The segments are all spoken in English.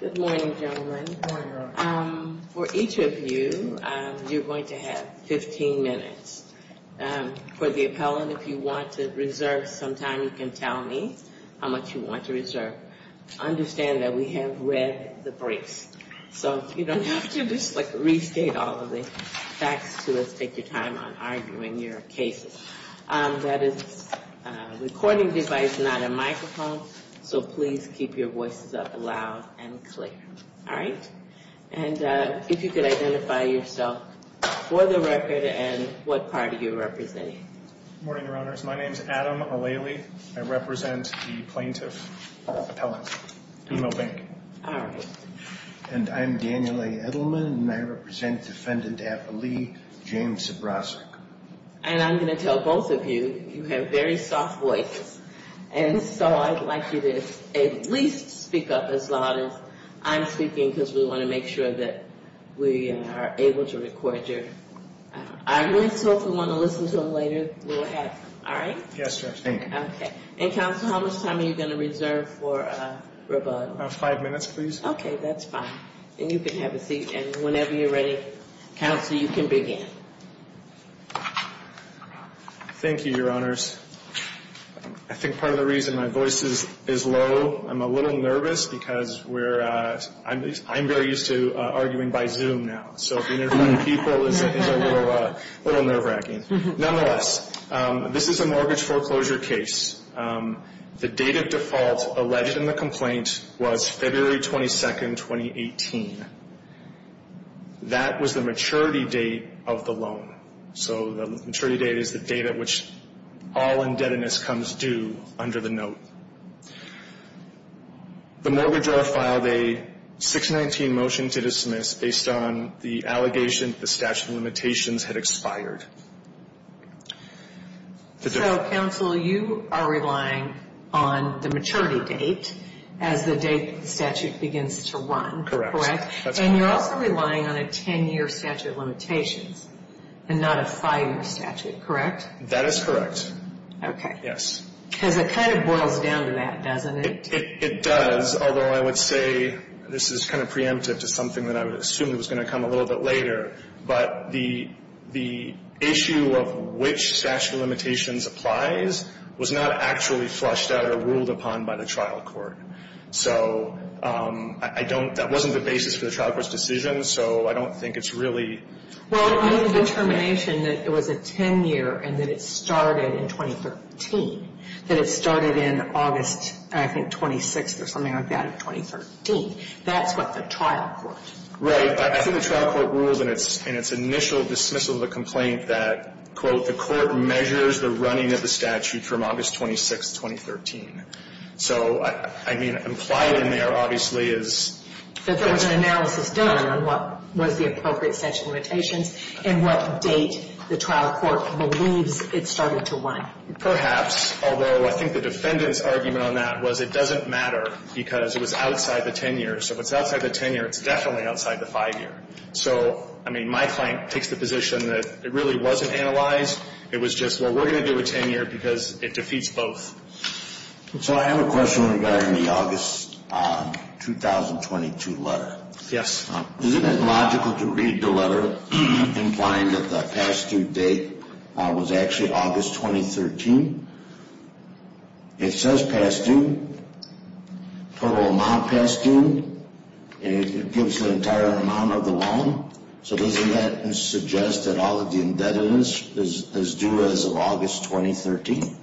Good morning, gentlemen. For each of you, you're going to have 15 minutes. For the appellant, if you want to reserve some time, you can tell me how much you want to reserve. Understand that we have read the briefs, so you don't have to restate all of the facts to us, take your time on arguing your cases. That is a recording device, not a microphone, so please keep your voices up loud and clear. All right? And if you could identify yourself for the record and what party you're representing. Good morning, Your Honors. My name is Adam O'Leary. I represent the plaintiff appellant, BMO Bank. All right. And I'm Daniel A. Edelman, and I represent defendant affilee James Zbroszczyk. And I'm going to tell both of you, you have very soft voices, and so I'd like you to at least speak up as loud as I'm speaking because we want to make sure that we are able to record your arguments. So if you want to listen to them later, go ahead. All right? Yes, Judge. Thank you. Okay. And Counsel, how much time are you going to reserve for rebuttal? Five minutes, please. Okay. That's fine. And you can have a seat, and whenever you're ready, Counsel, you can begin. Thank you, Your Honors. I think part of the reason my voice is low, I'm a little nervous because I'm very used to arguing by Zoom now, so interviewing people is a little nerve-wracking. Nonetheless, this is a mortgage foreclosure case. The date of default alleged in the complaint was February 22, 2018. That was the maturity date of the loan. So the maturity date is the date at which all indebtedness comes due under the note. The mortgage owner filed a 619 motion to dismiss based on the allegation the statute of limitations had expired. So, Counsel, you are relying on the maturity date as the date the statute begins to run, correct? Correct. That's correct. So you're relying on a 10-year statute of limitations and not a five-year statute, correct? That is correct. Okay. Yes. Because it kind of boils down to that, doesn't it? It does, although I would say this is kind of preemptive to something that I assumed was going to come a little bit later, but the issue of which statute of limitations applies was not actually flushed out or ruled upon by the trial court. So I don't – that wasn't the basis for the trial court's decision, so I don't think it's really – Well, it made a determination that it was a 10-year and that it started in 2013, that it started in August, I think, 26th or something like that of 2013. That's what the trial court – Right. I think the trial court ruled in its initial dismissal of the complaint that, quote, the court measures the running of the statute from August 26th, 2013. So, I mean, implied in there, obviously, is – That there was an analysis done on what was the appropriate statute of limitations and what date the trial court believes it started to run. Perhaps, although I think the defendant's argument on that was it doesn't matter because it was outside the 10-year. So if it's outside the 10-year, it's definitely outside the 5-year. So, I mean, my client takes the position that it really wasn't analyzed. It was just, well, we're going to do a 10-year because it defeats both. So I have a question regarding the August 2022 letter. Isn't it logical to read the letter implying that the past due date was actually August 2013? It says past due, total amount past due, and it gives the entire amount of the loan. So doesn't that suggest that all of the indebtedness is due as of August 2013?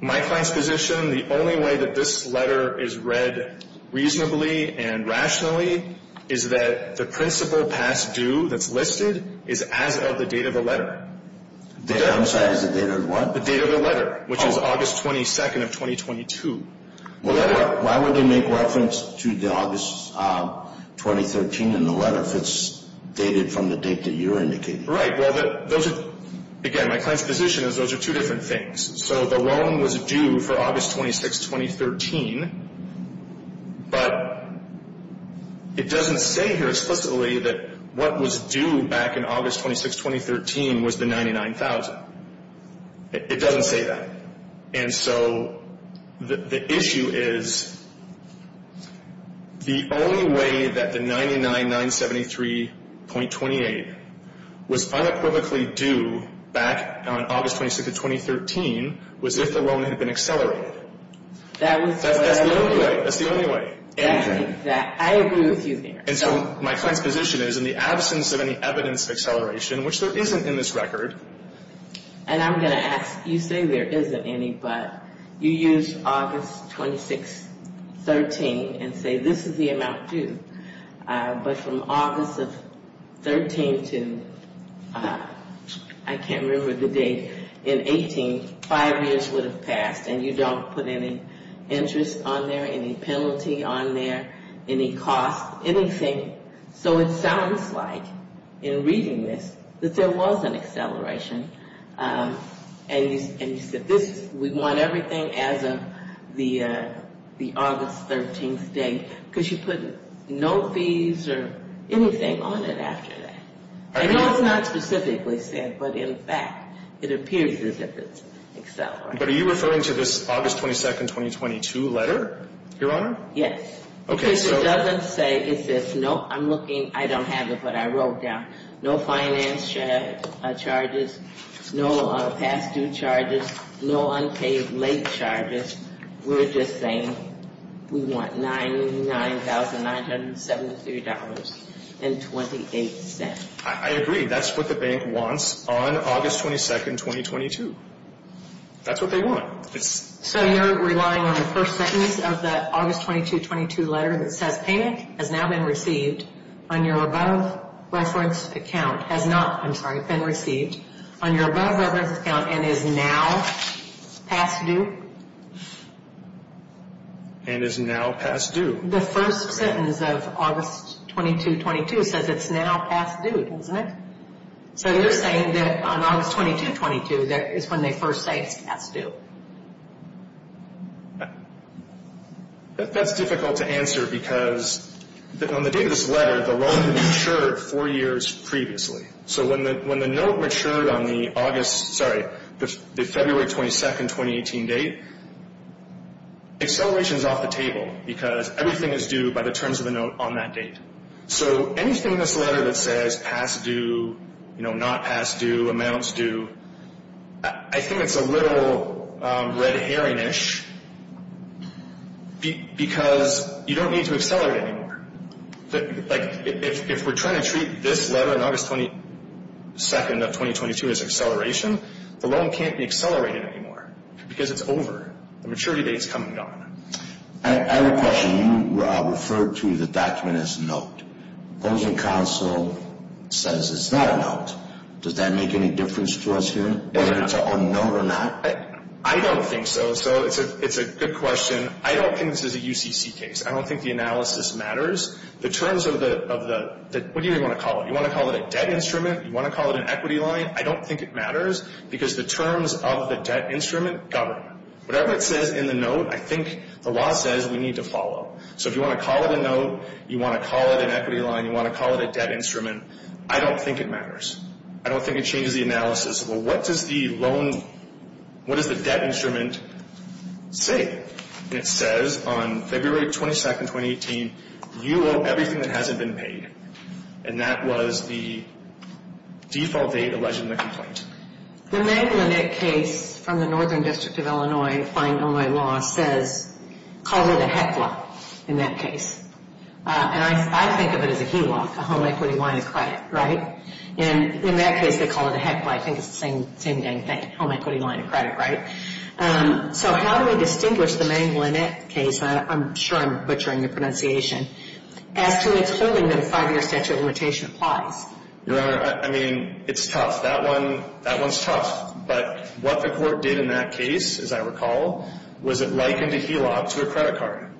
My client's position, the only way that this letter is read reasonably and rationally is that the principal past due that's listed is as of the date of the letter. I'm sorry, as of the date of what? The date of the letter, which is August 22nd of 2022. Why would they make reference to the August 2013 in the letter if it's dated from the date that you're indicating? Right. Well, those are, again, my client's position is those are two different things. So the loan was due for August 26, 2013, but it doesn't say here explicitly that what was due back in August 26, 2013 was the 99,000. It doesn't say that. And so the issue is the only way that the 99,973.28 was unequivocally due back on August 26, 2013 was if the loan had been accelerated. That's the only way. That's the only way. I agree with you there. And so my client's position is in the absence of any evidence of acceleration, which there isn't in this record. And I'm going to ask, you say there isn't any, but you use August 26, 2013 and say this is the amount due. But from August of 13 to, I can't remember the date, in 18, five years would have passed, and you don't put any interest on there, any penalty on there, any cost, anything. So it sounds like in reading this that there was an acceleration, and you said this, we want everything as of the August 13th date, because you put no fees or anything on it after that. I know it's not specifically said, but in fact, it appears as if it's accelerated. But are you referring to this August 22, 2022 letter, Your Honor? Yes. Because it doesn't say, it says, no, I'm looking, I don't have it, but I wrote down, no finance charges, no past due charges, no unpaid late charges. We're just saying we want $99,973.28. I agree. That's what the bank wants on August 22, 2022. That's what they want. So you're relying on the first sentence of the August 22, 2022 letter that says payment has now been received on your above reference account, has not, I'm sorry, been received on your above reference account and is now past due? And is now past due. The first sentence of August 22, 2022 says it's now past due, doesn't it? So you're saying that on August 22, 2022, that is when they first say it's past due. That's difficult to answer because on the date of this letter, the loan matured four years previously. So when the note matured on the August, sorry, the February 22, 2018 date, acceleration is off the table because everything is due by the terms of the note on that date. So anything in this letter that says past due, not past due, amounts due, I think it's a little red herring-ish because you don't need to accelerate anymore. Like if we're trying to treat this letter on August 22, 2022 as acceleration, the loan can't be accelerated anymore because it's over. The maturity date's come and gone. I have a question. You referred to the document as a note. Opposing counsel says it's not a note. Does that make any difference to us here whether it's a note or not? I don't think so. So it's a good question. I don't think this is a UCC case. I don't think the analysis matters. The terms of the, what do you want to call it? You want to call it a debt instrument? You want to call it an equity line? I don't think it matters because the terms of the debt instrument govern. Whatever it says in the note, I think the law says we need to follow. So if you want to call it a note, you want to call it an equity line, you want to call it a debt instrument, I don't think it matters. I don't think it changes the analysis. Well, what does the loan, what does the debt instrument say? It says on February 22, 2018, you owe everything that hasn't been paid. And that was the default date alleged in the complaint. The Manglenet case from the Northern District of Illinois fine Illinois law says, calls it a HECLA in that case. And I think of it as a HELOC, a home equity line of credit, right? And in that case, they call it a HECLA. I think it's the same dang thing, home equity line of credit, right? So how do we distinguish the Manglenet case, I'm sure I'm butchering the pronunciation, as to its holding that a five-year statute limitation applies? Your Honor, I mean, it's tough. That one, that one's tough. But what the Court did in that case, as I recall, was it likened a HELOC to a credit card.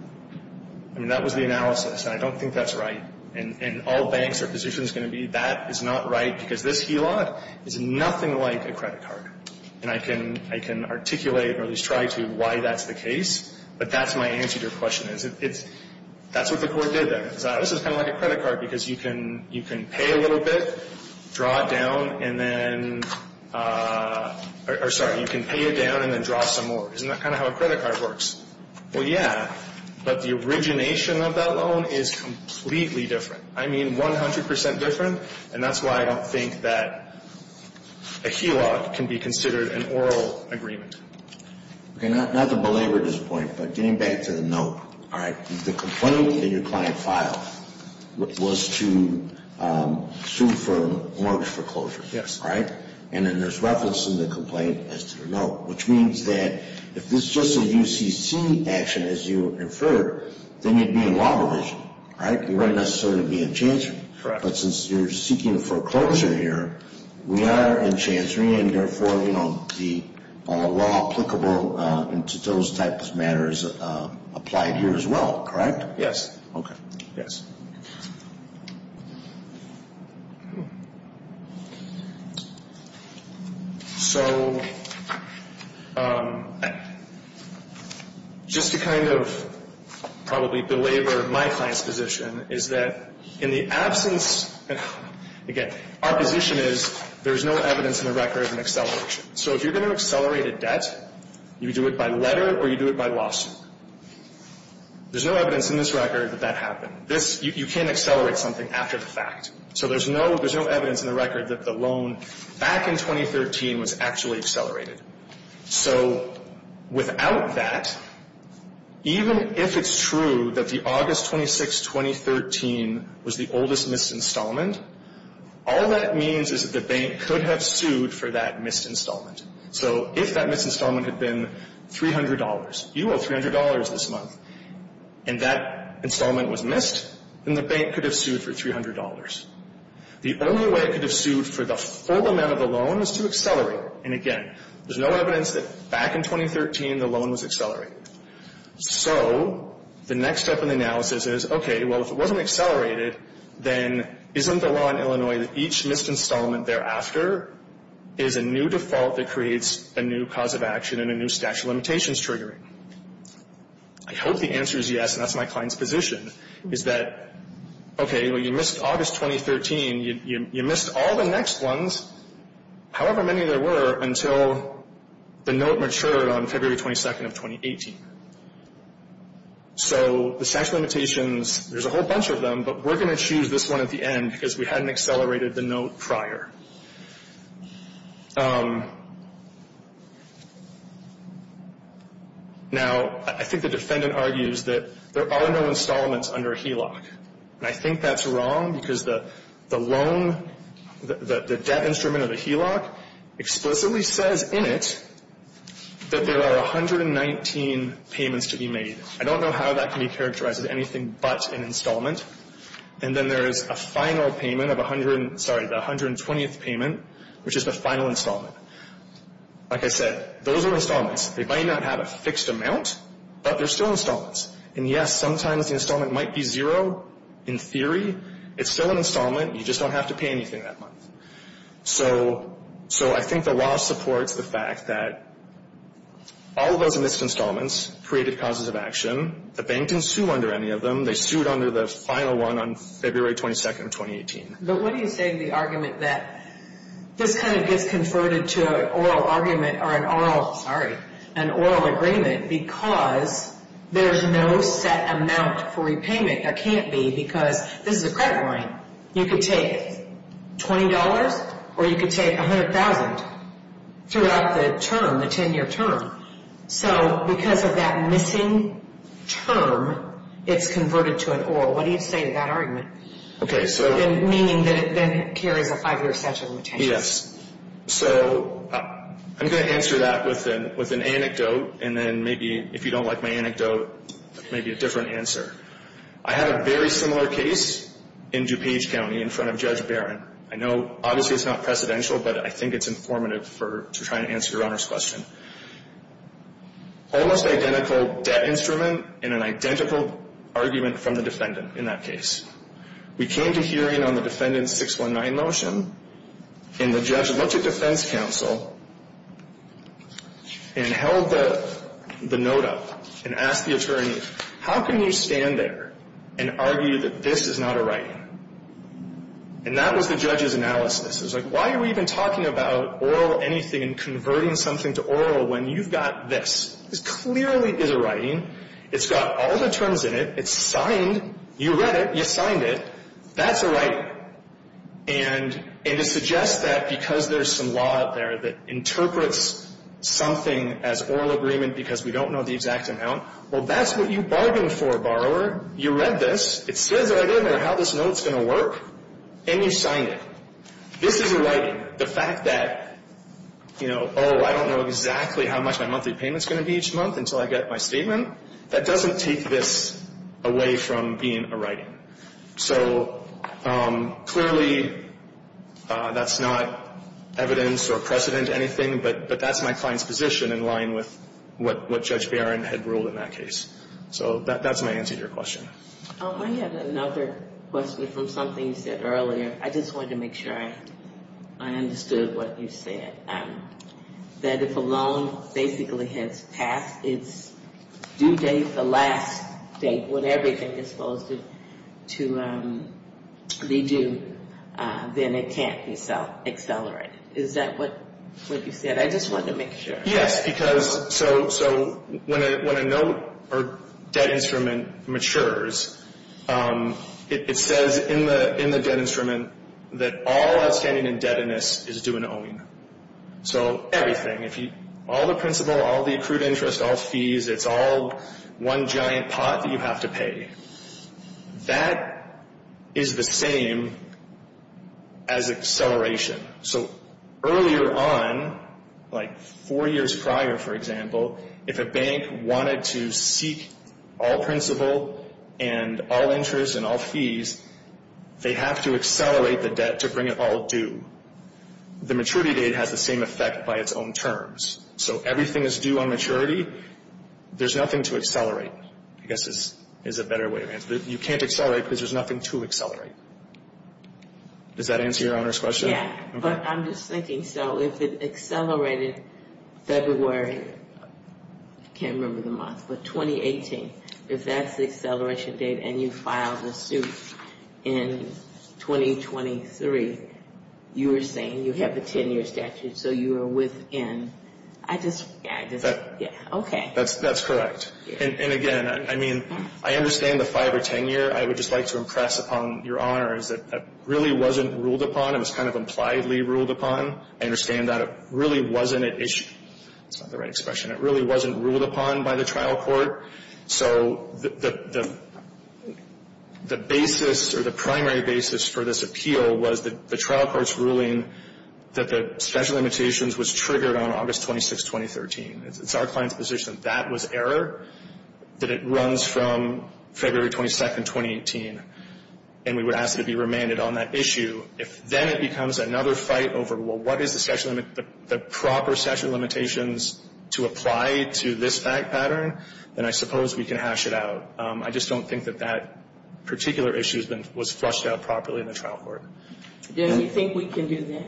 I mean, that was the analysis, and I don't think that's right. In all banks, their position is going to be that is not right because this HELOC is nothing like a credit card. And I can articulate or at least try to why that's the case, but that's my answer to your question is it's, that's what the Court did there. This is kind of like a credit card because you can pay a little bit, draw it down, and then, or sorry, you can pay it down and then draw some more. Isn't that kind of how a credit card works? Well, yeah, but the origination of that loan is completely different. I mean, 100 percent different, and that's why I don't think that a HELOC can be considered an oral agreement. Okay, not to belabor this point, but getting back to the note, all right, the complaint that your client filed was to sue for mortgage foreclosure, right? And then there's reference in the complaint as to the note, which means that if this is just a UCC action, as you inferred, then you'd be in law provision, right? You wouldn't necessarily be in chancery. But since you're seeking foreclosure here, we are in law applicable to those types of matters applied here as well, correct? Yes. Okay. Yes. So just to kind of probably belabor my client's position is that in the absence, again, our position is there's no evidence in the record of an acceleration. So if you're going to accelerate a debt, you do it by letter or you do it by lawsuit. There's no evidence in this record that that happened. This, you can't accelerate something after the fact. So there's no, there's no evidence in the record that the loan back in 2013 was actually accelerated. So without that, even if it's true that the August 26, 2013 was the oldest missed installment, all that means is that the bank could have sued for that missed installment. So if that missed installment had been $300, you owe $300 this month, and that installment was missed, then the bank could have sued for $300. The only way it could have sued for the full amount of the loan is to accelerate. And again, there's no evidence that back in 2013 the loan was accelerated. So the next step in the analysis is, okay, well, if it wasn't accelerated, then isn't the law in Illinois that each missed installment thereafter is a new default that creates a new cause of action and a new statute of limitations triggering? I hope the answer is yes, and that's my client's position, is that, okay, well, you missed August 2013. You missed all the next ones, however many there were, until the note matured on February 22nd of 2018. So the statute of limitations is not new to them, but we're going to choose this one at the end because we hadn't accelerated the note prior. Now, I think the defendant argues that there are no installments under HELOC, and I think that's wrong because the loan, the debt instrument of the HELOC explicitly says in it that there are 119 payments to be made. I don't know how that can be characterized as anything but an installment. And then there's a final payment of 100, sorry, the 120th payment, which is the final installment. Like I said, those are installments. They might not have a fixed amount, but they're still installments. And yes, sometimes the installment might be zero in theory. It's still an installment. You just don't have to pay anything that month. So I think the law supports the fact that all of those missed installments created causes of action. The bank didn't sue under any of them. They sued under the final one on February 22nd of 2018. But what do you say to the argument that this kind of gets converted to an oral argument or an oral, sorry, an oral agreement because there's no set amount for repayment. There can't be because this is a credit line. You could take $20 or you could take $100,000 throughout the term, the 10-year term. So because of that missing term, it's converted to an oral. What do you say to that argument? Meaning that it then carries a five-year statute of limitations. Yes. So I'm going to answer that with an anecdote and then maybe if you don't like my anecdote, maybe a different answer. I had a very similar case in DuPage County in front of Judge Barron. I know obviously it's not precedential, but I think it's informative to try to answer your Honor's question. Almost identical debt instrument and an identical argument from the defendant in that case. We came to hearing on the defendant's 619 motion and the judge looked at defense counsel and held the note up and asked the attorney, how can you stand there and argue that this is not a writing? And that was the judge's analysis. It was like, why are we even talking about oral anything and converting something to oral when you've got this? This clearly is a writing. It's got all the terms in it. It's signed. You read it. You signed it. That's a writing. And it suggests that because there's some law out there that interprets something as oral agreement because we don't know the borrower, you read this, it says right in there how this note's going to work, and you signed it. This is a writing. The fact that, you know, oh, I don't know exactly how much my monthly payment's going to be each month until I get my statement, that doesn't take this away from being a writing. So clearly that's not evidence or precedent to anything, but that's my client's position in line with what Judge Barron had ruled in that case. So that's my answer to your question. I have another question from something you said earlier. I just wanted to make sure I understood what you said, that if a loan basically has passed its due date, the last date when everything is supposed to be due, then it can't be self-accelerated. Is that what you said? I just wanted to make sure. Yes, because so when a note or debt instrument matures, it says in the debt instrument that all outstanding indebtedness is due in owing. So everything, all the principal, all the accrued interest, all fees, it's all one giant pot that you have to pay. That is the same as acceleration. So earlier on, like four years ago, four years prior, for example, if a bank wanted to seek all principal and all interest and all fees, they have to accelerate the debt to bring it all due. The maturity date has the same effect by its own terms. So everything is due on maturity. There's nothing to accelerate, I guess is a better way to answer. You can't accelerate because there's nothing to accelerate. Does that answer Your Honor's question? Yes. But I'm just thinking, so if it accelerated February, I can't remember the month, but 2018, if that's the acceleration date and you filed a suit in 2023, you were saying you have the 10-year statute, so you are within. I just, yeah, okay. That's correct. And again, I mean, I understand the 5 or 10 year. I would just like to impress upon Your Honor is that that really wasn't ruled upon. It was kind of impliedly ruled upon. I understand that it really wasn't an issue. That's not the right expression. It really wasn't ruled upon by the trial court. So the basis or the primary basis for this appeal was the trial court's ruling that the special limitations was triggered on August 26, 2013. It's our client's position that that was error, that it runs from February 22, 2018. And we're not going to do that. And we would ask that it be remanded on that issue. If then it becomes another fight over, well, what is the proper statute of limitations to apply to this fact pattern, then I suppose we can hash it out. I just don't think that that particular issue was flushed out properly in the trial court. Do you think we can do that?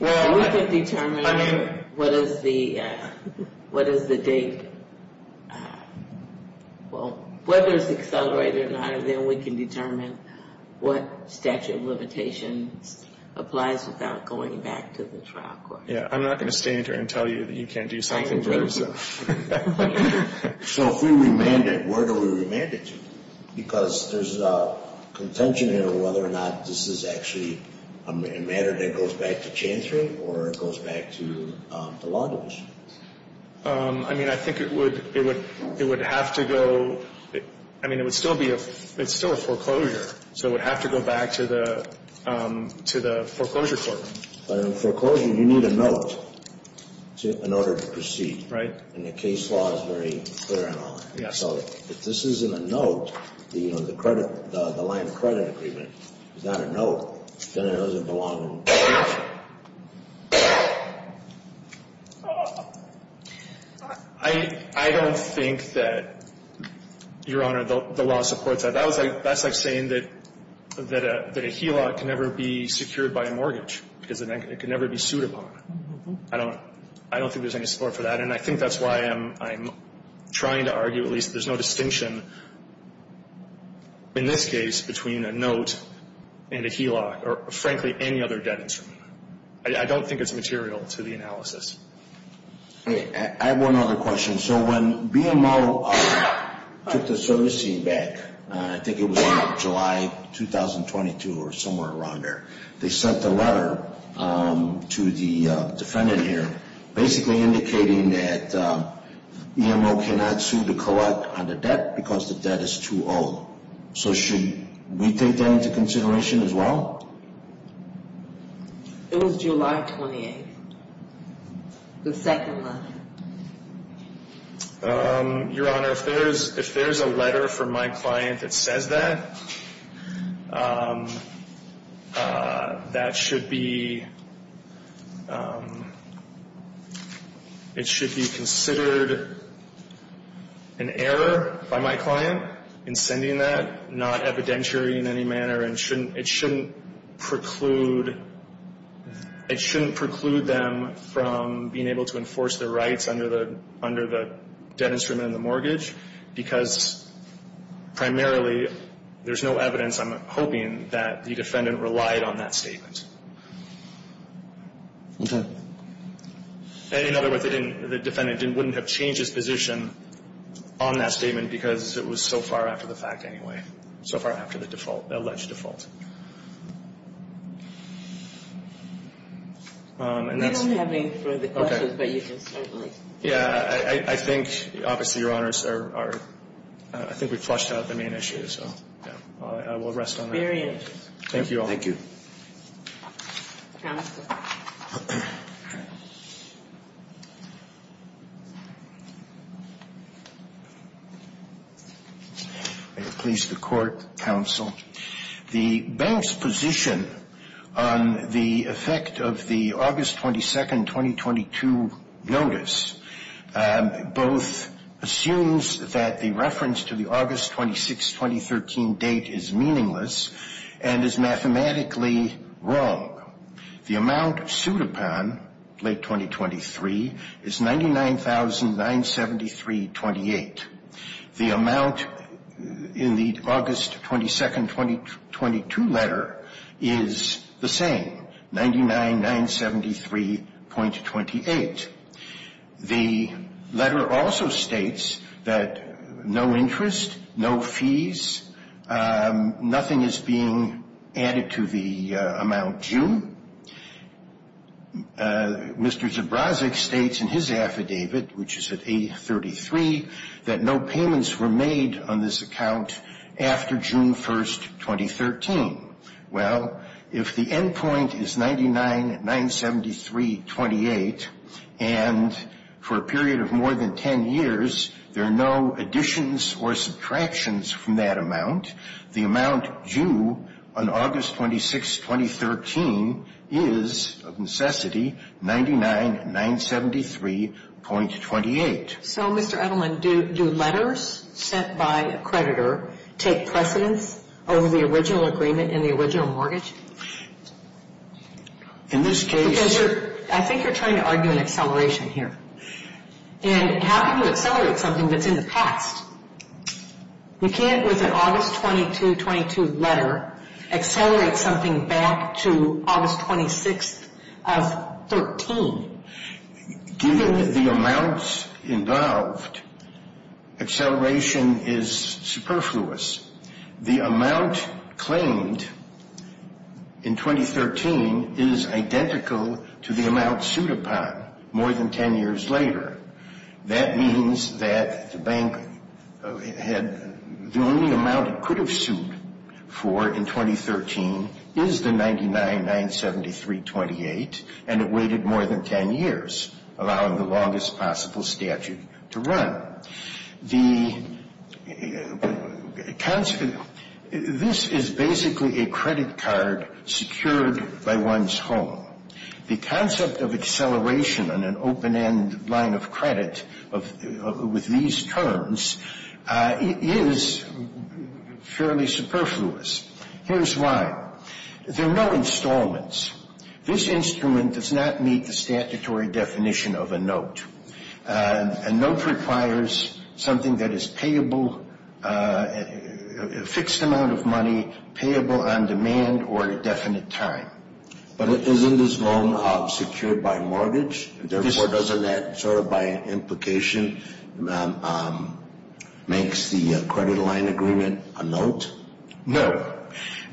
Well, we can determine what is the date. Well, whether it's accelerated or not, then we can determine what statute of limitations applies without going back to the trial court. Yeah. I'm not going to stand here and tell you that you can't do something for yourself. So if we remand it, where do we remand it to? Because there's contention here of whether or not this is actually a matter that goes back to Chancery or it goes back to the law division. I mean, I think it would have to go, I mean, it would still be a, it's still a foreclosure. So it would have to go back to the foreclosure court. But in foreclosure, you need a note in order to proceed. Right. And the case law is very clear on all that. So if this isn't a note, the line of credit agreement is not a note, then it doesn't belong in the case. I don't think that, Your Honor, the law supports that. That's like saying that a HELOC can never be secured by a mortgage because it can never be sued upon. I don't think there's any support for that. And I think that's why I'm trying to argue at least there's no distinction in this case between a note and a HELOC or, frankly, any other debt instrument. I don't think it's material to the analysis. I have one other question. So when BMO took the servicing back, I think it was July 2022 or somewhere around there, they sent a letter to the defendant here basically indicating that BMO cannot sue the co-op on the debt because the debt is 2-0. So should we take that into consideration as well? It was July 28th, the second letter. Your Honor, if there's a letter from my client that says that, that should be considered an error by my client in sending that, it's not evidentiary in any manner and it shouldn't preclude them from being able to enforce their rights under the debt instrument and the mortgage because primarily there's no evidence, I'm hoping, that the defendant relied on that statement. In other words, the defendant wouldn't have changed his position on that statement because it was so far after the fact anyway. So far after the default, alleged default. We don't have any further questions, but you can certainly. Yeah, I think, obviously, Your Honors, I think we've flushed out the main issue, so I will rest on that. Very interesting. Thank you all. Thank you. May it please the Court, Counsel. The bank's position on the effect of the August 22nd, 2022 notice both assumes that the reference to the August 26th, 2013 date is meaningless and is mathematically wrong. The amount sued upon, late 2023, is $99,973.28. The amount in the August 22nd, 2022 letter is the same, $99,973.28. The letter also states that no interest, no fees, nothing is being added to the amount due. Mr. Zabrazek states in his affidavit, which is at A33, that no payments were made on this account after June 1st, 2013. Well, if the endpoint is $99,973.28, and for a period of more than 10 years, there are no additions or subtractions from that amount, the amount due on August 26th, 2013 is, of necessity, $99,973.28. So, Mr. Edelman, do letters sent by a creditor take precedence over the original agreement and the original mortgage? In this case... Because you're, I think you're trying to argue an acceleration here. And how can you accelerate something that's in the past? You can't, with an August 22nd, 2022 letter, accelerate something back to August 26th of 2013. Given the amounts involved, acceleration is superfluous. The amount claimed in 2013 is identical to the amount sued upon more than 10 years later. That means that the bank had, the only amount it could have sued for in 2013 is the $99,973.28, and it waited more than 10 years, allowing the longest possible statute to run. The... This is basically a credit card secured by one's home. The concept of acceleration on an open-end line of credit with these terms is fairly superfluous. Here's why. There are no installments. This instrument does not meet the statutory definition of a note. A note requires something that is payable, a fixed amount of money payable on demand or at a definite time. But isn't this loan secured by mortgage? Therefore, doesn't that, sort of by implication, makes the credit line agreement a note? No.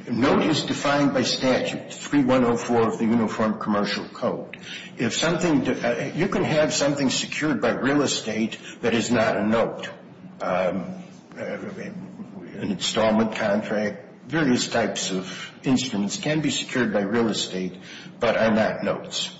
A note is defined by statute 3104 of the Uniform Commercial Code. If something, you can have something secured by real estate that is not a note. An installment contract, various types of instruments can be secured by real estate, but are not notes.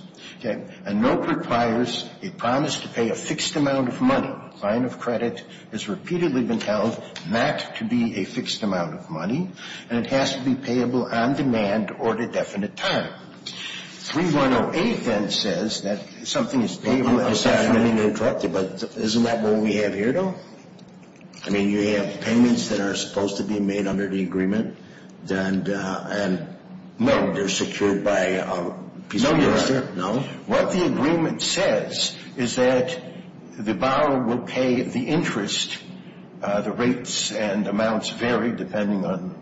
A note requires a promise to pay a fixed amount of money. A line of credit has repeatedly been held not to be a fixed amount of money, and it has to be payable on demand or at a definite time. 3108, then, says that something is payable at a definite time. I'm sorry, I didn't mean to interrupt you, but isn't that what we have here, though? I mean, you have payments that are supposed to be made under the agreement, and they're secured by a piece of paper? No? What the agreement says is that the borrower will pay the interest. The rates and amounts vary depending on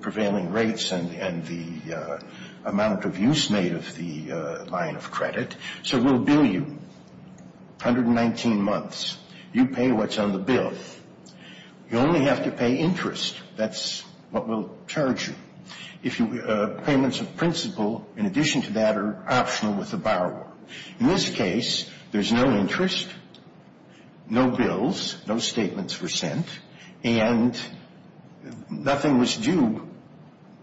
prevailing rates and the amount of use made of the line of credit. So we'll bill you 119 months. You pay what's on the bill. You only have to pay interest. That's what we'll charge you. Payments of principle, in addition to that, are optional with the borrower. In this case, there's no interest, no bills, no statements were sent, and nothing was due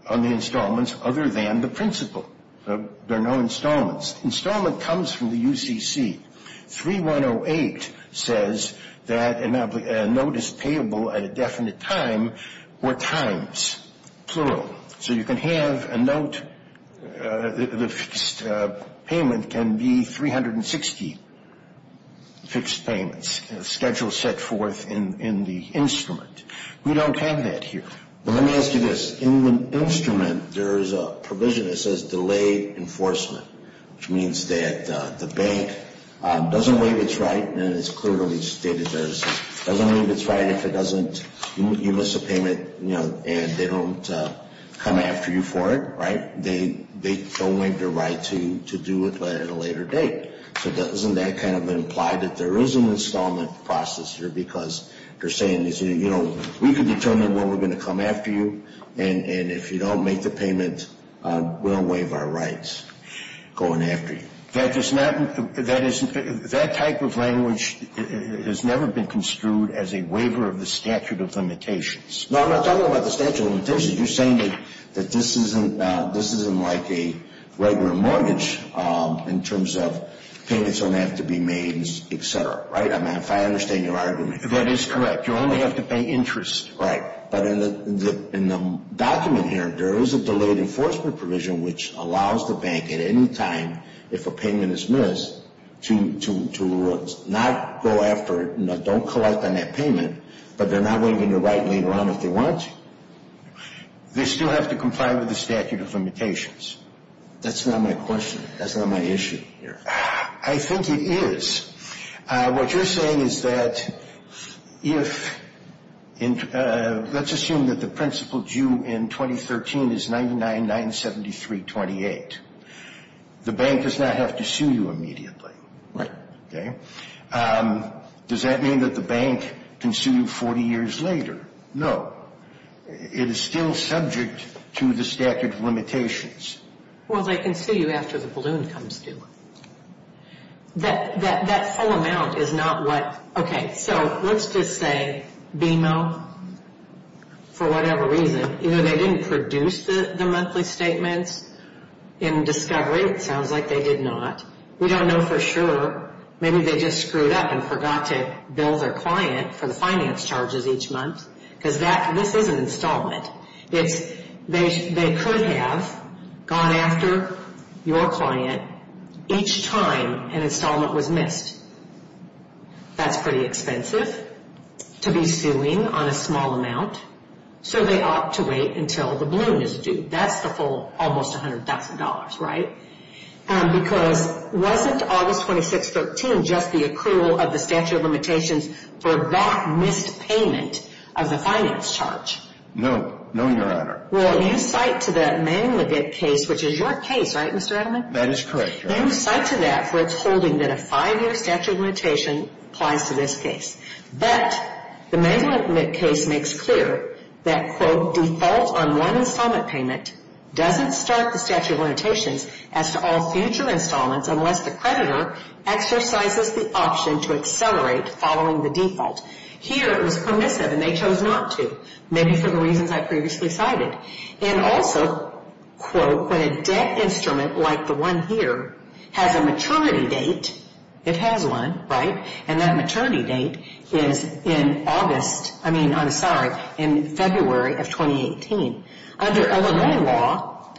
on the installments other than the principle. There are no installments. Installment comes from the UCC. 3108 says that a note is payable at a definite time or times, plural. So you can have a note, the fixed payment can be 360 fixed payments, schedule set forth in the instrument. We don't have that here. Well, let me ask you this. In the instrument, there is a provision that says delay enforcement, which means that the bank doesn't waive its right, and it's clearly stated there. It doesn't waive its right if you miss a payment and they don't come after you for it, right? They don't waive their right to do it at a later date. So doesn't that kind of imply that there is an installment process here because they're saying, you know, we can determine when we're going to come after you, and if you don't make the payment, we'll waive our rights going after you. That type of language has never been construed as a waiver of the statute of limitations. No, I'm not talking about the statute of limitations. So you're saying that this isn't like a regular mortgage in terms of payments don't have to be made, et cetera, right? I mean, if I understand your argument. That is correct. You only have to pay interest. Right. But in the document here, there is a delayed enforcement provision, which allows the bank at any time if a payment is missed to not go after it, and don't collect on that payment, but they're not waiving their right later on if they want to. They still have to comply with the statute of limitations. That's not my question. That's not my issue here. I think it is. What you're saying is that if, let's assume that the principal due in 2013 is $99,973.28, the bank does not have to sue you immediately. Right. Does that mean that the bank can sue you 40 years later? No. It is still subject to the statute of limitations. Well, they can sue you after the balloon comes through. That whole amount is not what, okay, so let's just say BMO, for whatever reason, you know, they didn't produce the monthly statements in discovery. It sounds like they did not. We don't know for sure. Maybe they just screwed up and forgot to bill their client for the finance charges each month, because this is an installment. They could have gone after your client each time an installment was missed. That's pretty expensive to be suing on a small amount, so they opt to wait until the balloon is due. That's the full almost $100,000, right? Because wasn't August 26, 2013, just the accrual of the statute of limitations for that missed payment of the finance charge? No. No, Your Honor. Well, you cite to the Mangluvit case, which is your case, right, Mr. Edelman? That is correct, Your Honor. You cite to that for its holding that a five-year statute of limitations applies to this case. But the Mangluvit case makes clear that, quote, the default on one installment payment doesn't start the statute of limitations as to all future installments unless the creditor exercises the option to accelerate following the default. Here it was permissive, and they chose not to, maybe for the reasons I previously cited. And also, quote, when a debt instrument like the one here has a maturity date, it has one, right, and that maturity date is in August, I mean, I'm sorry, in February of 2018. Under Illinois law,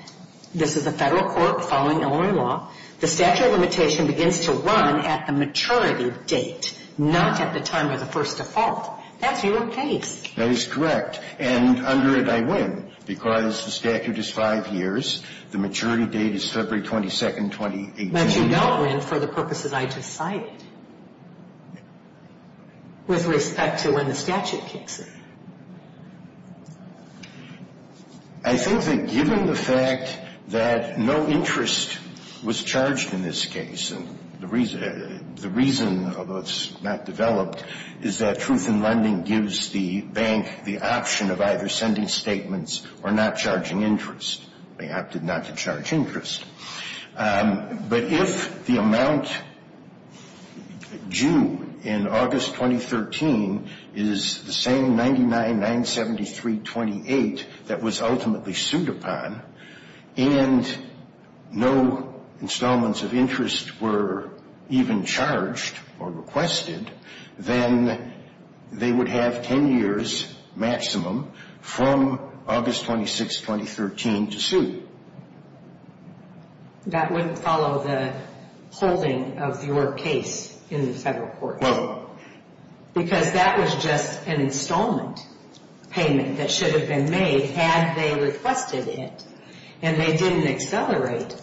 this is the federal court following Illinois law, the statute of limitation begins to run at the maturity date, not at the time of the first default. That's your case. That is correct. And under it, I win because the statute is five years. The maturity date is February 22, 2018. But you don't win for the purposes I just cited with respect to when the statute kicks in. I think that given the fact that no interest was charged in this case, and the reason, although it's not developed, is that Truth in Lending gives the bank the option of either sending statements or not charging interest. They opted not to charge interest. But if the amount due in August 2013 is the same $99,973.28 that was ultimately sued upon, and no installments of interest were even charged or requested, then they would have 10 years maximum from August 26, 2013 to sue. That wouldn't follow the holding of your case in the federal court. Because that was just an installment payment that should have been made had they requested it, and they didn't accelerate.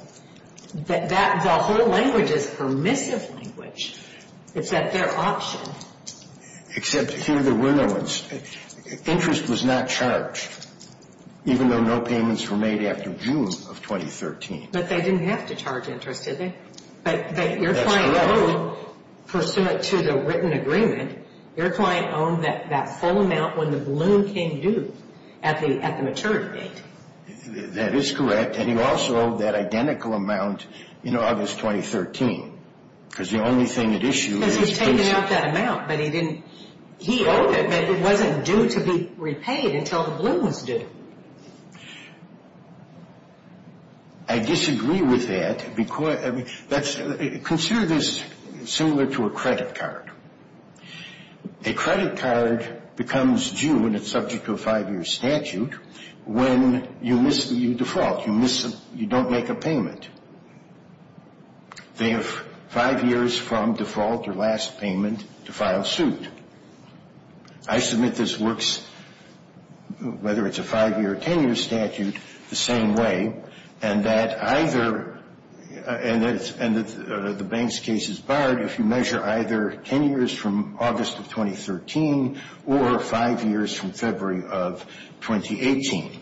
The whole language is permissive language. It's at their option. Except here there were no ones. Interest was not charged, even though no payments were made after June of 2013. But they didn't have to charge interest, did they? That's correct. But your client owed, pursuant to the written agreement, your client owned that full amount when the balloon came due at the maturity date. That is correct. And he also owed that identical amount in August 2013. Because the only thing at issue is his principal. Because he's taken out that amount, but he didn't owe it. It wasn't due to be repaid until the balloon was due. I disagree with that. Consider this similar to a credit card. A credit card becomes due when it's subject to a five-year statute when you default. You don't make a payment. They have five years from default, your last payment, to file suit. I submit this works, whether it's a five-year or ten-year statute, the same way, and that either the bank's case is barred if you measure either ten years from August of 2013 or five years from February of 2018.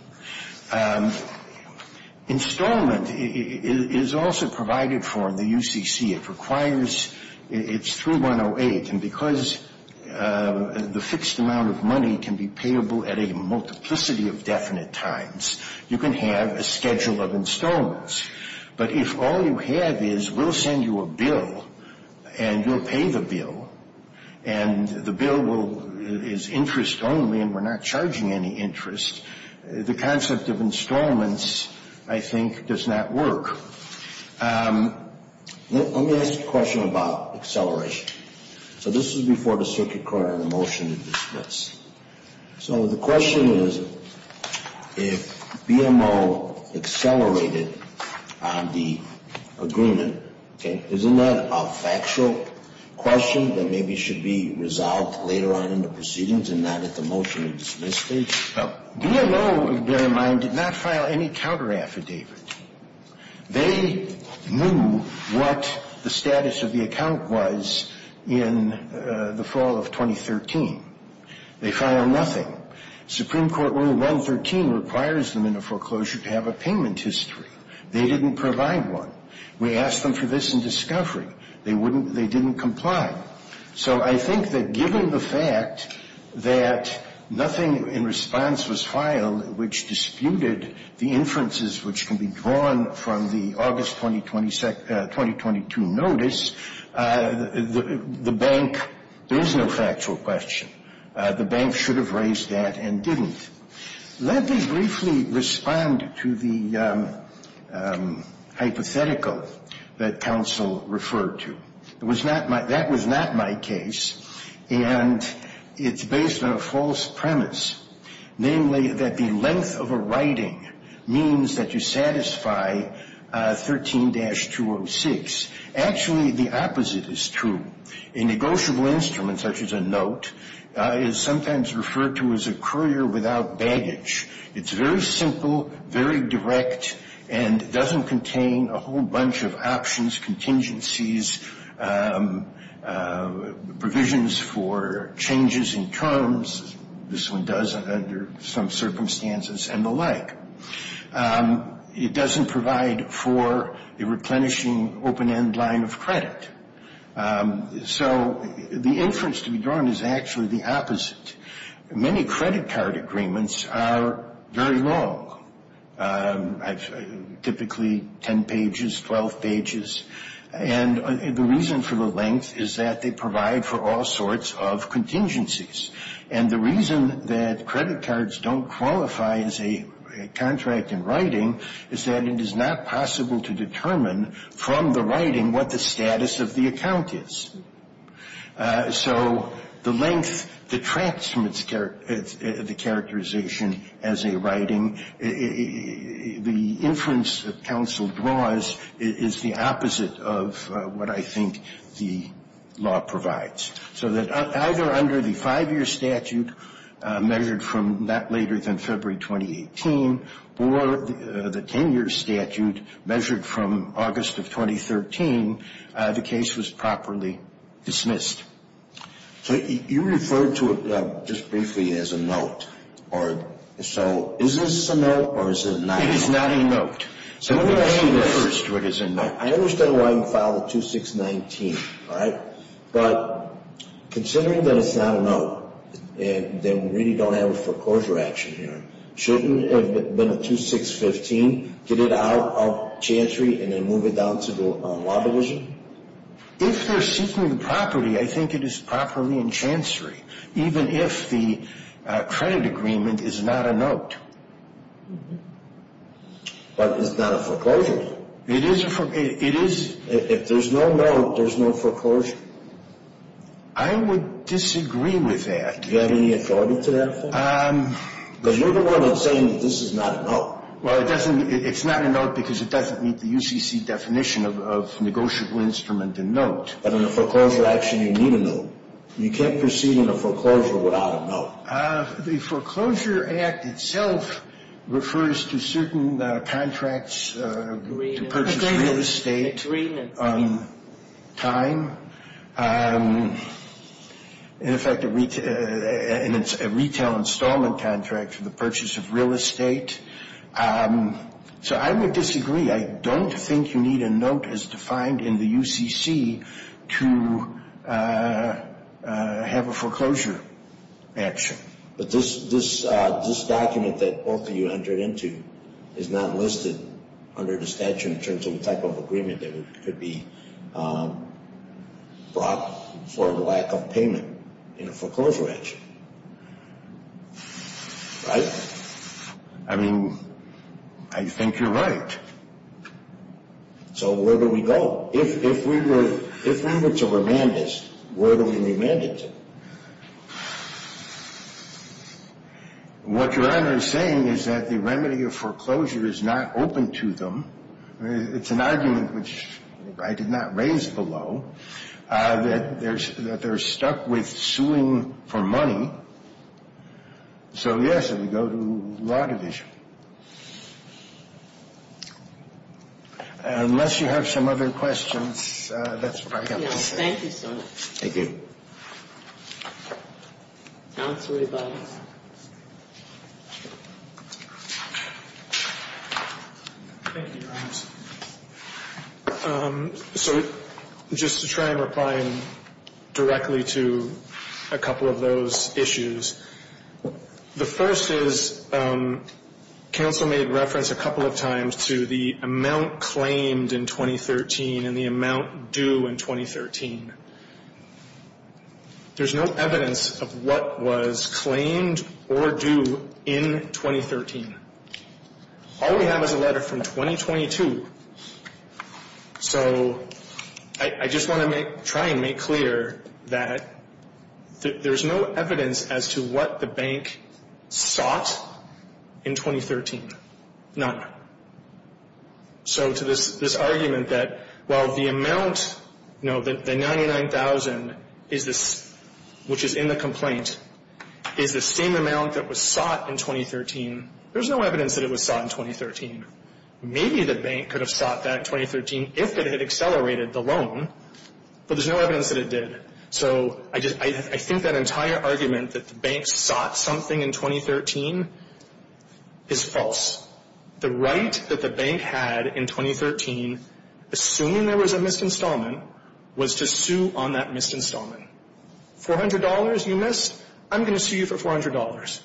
Installment is also provided for in the UCC. It requires its 3108. And because the fixed amount of money can be payable at a multiplicity of definite times, you can have a schedule of installments. But if all you have is we'll send you a bill and you'll pay the bill, and the bill is interest only and we're not charging any interest, the concept of installments, I think, does not work. Let me ask a question about acceleration. So this is before the circuit court on a motion to dismiss. So the question is, if BMO accelerated on the agreement, okay, isn't that a factual question that maybe should be resolved later on in the proceedings and not at the motion to dismiss stage? Well, BMO, bear in mind, did not file any counteraffidavit. They knew what the status of the account was in the fall of 2013. They filed nothing. Supreme Court Rule 113 requires them in a foreclosure to have a payment history. They didn't provide one. We asked them for this in discovery. They didn't comply. So I think that given the fact that nothing in response was filed which disputed the inferences which can be drawn from the August 2022 notice, the bank, there is no factual question. The bank should have raised that and didn't. Let me briefly respond to the hypothetical that counsel referred to. That was not my case, and it's based on a false premise, namely, that the length of a writing means that you satisfy 13-206. Actually, the opposite is true. A negotiable instrument such as a note is sometimes referred to as a courier without baggage. It's very simple, very direct, and doesn't contain a whole bunch of options, contingencies, provisions for changes in terms. This one does under some circumstances and the like. It doesn't provide for a replenishing open-end line of credit. So the inference to be drawn is actually the opposite. Many credit card agreements are very long, typically 10 pages, 12 pages. And the reason for the length is that they provide for all sorts of contingencies. And the reason that credit cards don't qualify as a contract in writing is that it is not possible to determine from the writing what the status of the account is. So the length detracts from the characterization as a writing. The inference that counsel draws is the opposite of what I think the law provides. So that either under the five-year statute measured from not later than February 2018 or the 10-year statute measured from August of 2013, the case was properly dismissed. So you referred to it just briefly as a note. So is this a note or is it not a note? It is not a note. So let me ask you first what is a note. I understand why you filed a 2619, all right? But considering that it's not a note and that we really don't have a foreclosure action here, shouldn't it have been a 2615, get it out of Chancery and then move it down to the Law Division? If they're seeking the property, I think it is properly in Chancery, even if the credit agreement is not a note. But it's not a foreclosure. It is a foreclosure. If there's no note, there's no foreclosure. I would disagree with that. Do you have any authority to that? Because you're the one that's saying that this is not a note. Well, it's not a note because it doesn't meet the UCC definition of negotiable instrument and note. But in a foreclosure action, you need a note. You can't proceed in a foreclosure without a note. The Foreclosure Act itself refers to certain contracts to purchase real estate, time, in effect, a retail installment contract for the purchase of real estate. So I would disagree. I don't think you need a note as defined in the UCC to have a foreclosure action. But this document that both of you entered into is not listed under the statute in terms of the type of agreement that could be brought for lack of payment in a foreclosure action, right? I mean, I think you're right. So where do we go? If we were to remand this, where do we remand it to? What Your Honor is saying is that the remedy of foreclosure is not open to them. It's an argument, which I did not raise below, that they're stuck with suing for money. So, yes, it would go to the Law Division. Unless you have some other questions, that's what I have to say. Thank you so much. Thank you. Counsel Rebo. Thank you, Your Honor. So just to try and reply directly to a couple of those issues, the first is counsel made reference a couple of times to the amount claimed in 2013 and the amount due in 2013. There's no evidence of what was claimed or due in 2013. All we have is a letter from 2022. So I just want to try and make clear that there's no evidence as to what the bank sought in 2013. None. So to this argument that while the amount, no, the 99,000, which is in the complaint, is the same amount that was sought in 2013, there's no evidence that it was sought in 2013. Maybe the bank could have sought that in 2013 if it had accelerated the loan, but there's no evidence that it did. So I think that entire argument that the bank sought something in 2013 is false. The right that the bank had in 2013, assuming there was a missed installment, was to sue on that missed installment. $400 you missed? I'm going to sue you for $400.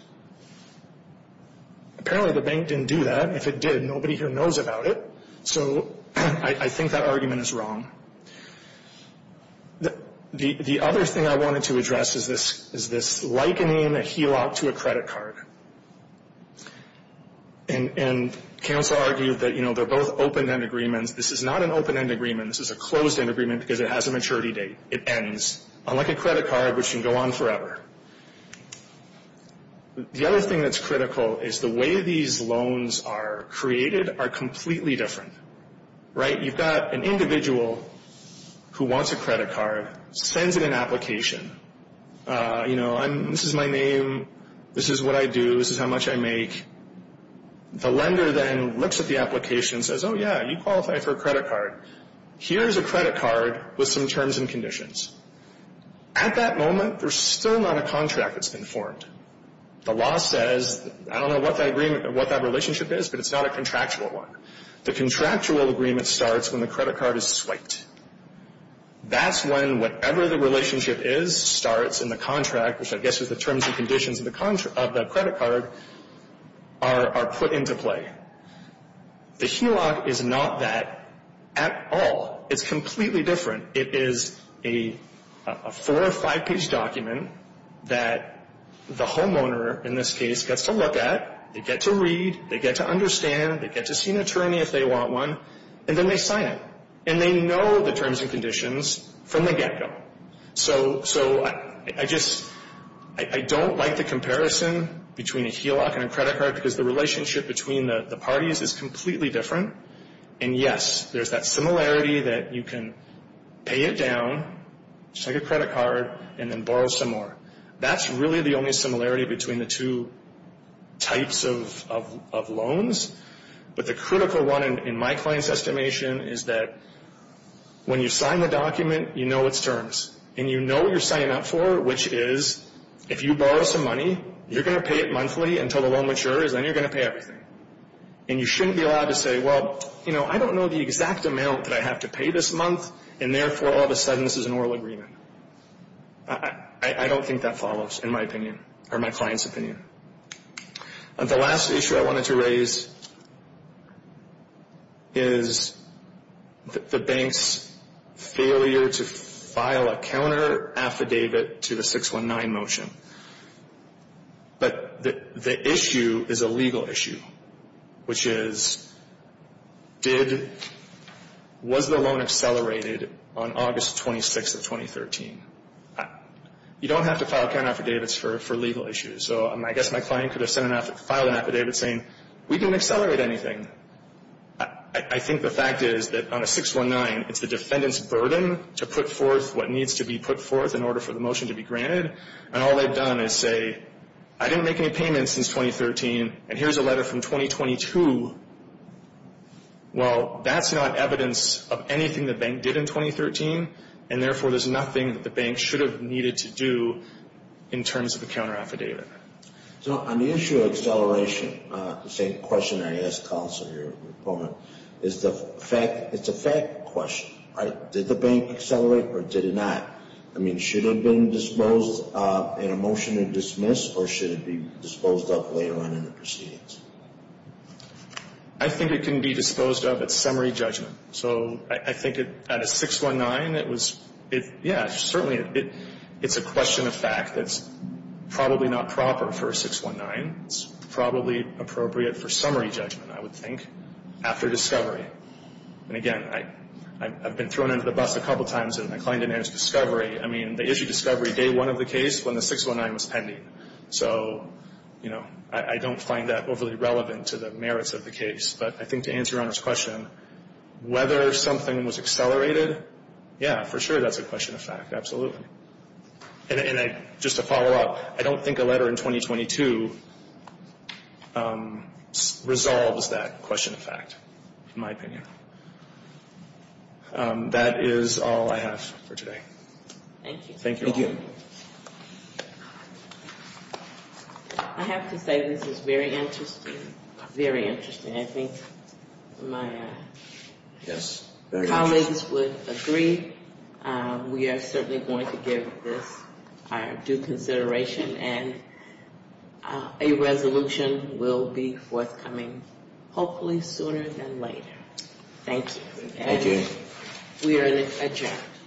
Apparently the bank didn't do that. If it did, nobody here knows about it. So I think that argument is wrong. The other thing I wanted to address is this likening a HELOC to a credit card. And counsel argued that, you know, they're both open-end agreements. This is not an open-end agreement. This is a closed-end agreement because it has a maturity date. It ends. Unlike a credit card, which can go on forever. The other thing that's critical is the way these loans are created are completely different. Right? You've got an individual who wants a credit card, sends it an application. You know, this is my name. This is what I do. This is how much I make. The lender then looks at the application and says, oh, yeah, you qualify for a credit card. Here's a credit card with some terms and conditions. At that moment, there's still not a contract that's been formed. The law says, I don't know what that relationship is, but it's not a contractual one. The contractual agreement starts when the credit card is swiped. That's when whatever the relationship is starts and the contract, which I guess is the terms and conditions of the credit card, are put into play. The HELOC is not that at all. It's completely different. It is a four- or five-page document that the homeowner, in this case, gets to look at. They get to read. They get to understand. They get to see an attorney if they want one. And then they sign it. And they know the terms and conditions from the get-go. So I just don't like the comparison between a HELOC and a credit card because the relationship between the parties is completely different. And, yes, there's that similarity that you can pay it down, just like a credit card, and then borrow some more. That's really the only similarity between the two types of loans. But the critical one in my client's estimation is that when you sign the document, you know its terms, and you know what you're signing up for, which is if you borrow some money, you're going to pay it monthly until the loan matures, and then you're going to pay everything. And you shouldn't be allowed to say, well, you know, I don't know the exact amount that I have to pay this month, and therefore all of a sudden this is an oral agreement. I don't think that follows, in my opinion, or my client's opinion. The last issue I wanted to raise is the bank's failure to file a counter-affidavit to the 619 motion. But the issue is a legal issue, which is was the loan accelerated on August 26th of 2013? You don't have to file counter-affidavits for legal issues. So I guess my client could have filed an affidavit saying, we didn't accelerate anything. I think the fact is that on a 619, it's the defendant's burden to put forth what needs to be put forth in order for the motion to be granted, and all they've done is say, I didn't make any payments since 2013, and here's a letter from 2022. Well, that's not evidence of anything the bank did in 2013, and therefore there's nothing that the bank should have needed to do in terms of a counter-affidavit. So on the issue of acceleration, the same question I asked counsel here, is the fact, it's a fact question, right? Did the bank accelerate or did it not? I mean, should it have been disposed in a motion to dismiss, or should it be disposed of later on in the proceedings? I think it can be disposed of at summary judgment. So I think at a 619, it was, yeah, certainly it's a question of fact. It's probably not proper for a 619. It's probably appropriate for summary judgment, I would think, after discovery. And again, I've been thrown under the bus a couple times, and my client didn't answer discovery. I mean, they issued discovery day one of the case when the 619 was pending. So, you know, I don't find that overly relevant to the merits of the case. But I think to answer Your Honor's question, whether something was accelerated, yeah, for sure, that's a question of fact. Absolutely. And just to follow up, I don't think a letter in 2022 resolves that question of fact, in my opinion. That is all I have for today. Thank you. Thank you, Your Honor. I have to say this is very interesting, very interesting. I think my colleagues would agree. We are certainly going to give this our due consideration, and a resolution will be forthcoming hopefully sooner than later. Thank you. Thank you. And we are adjourned.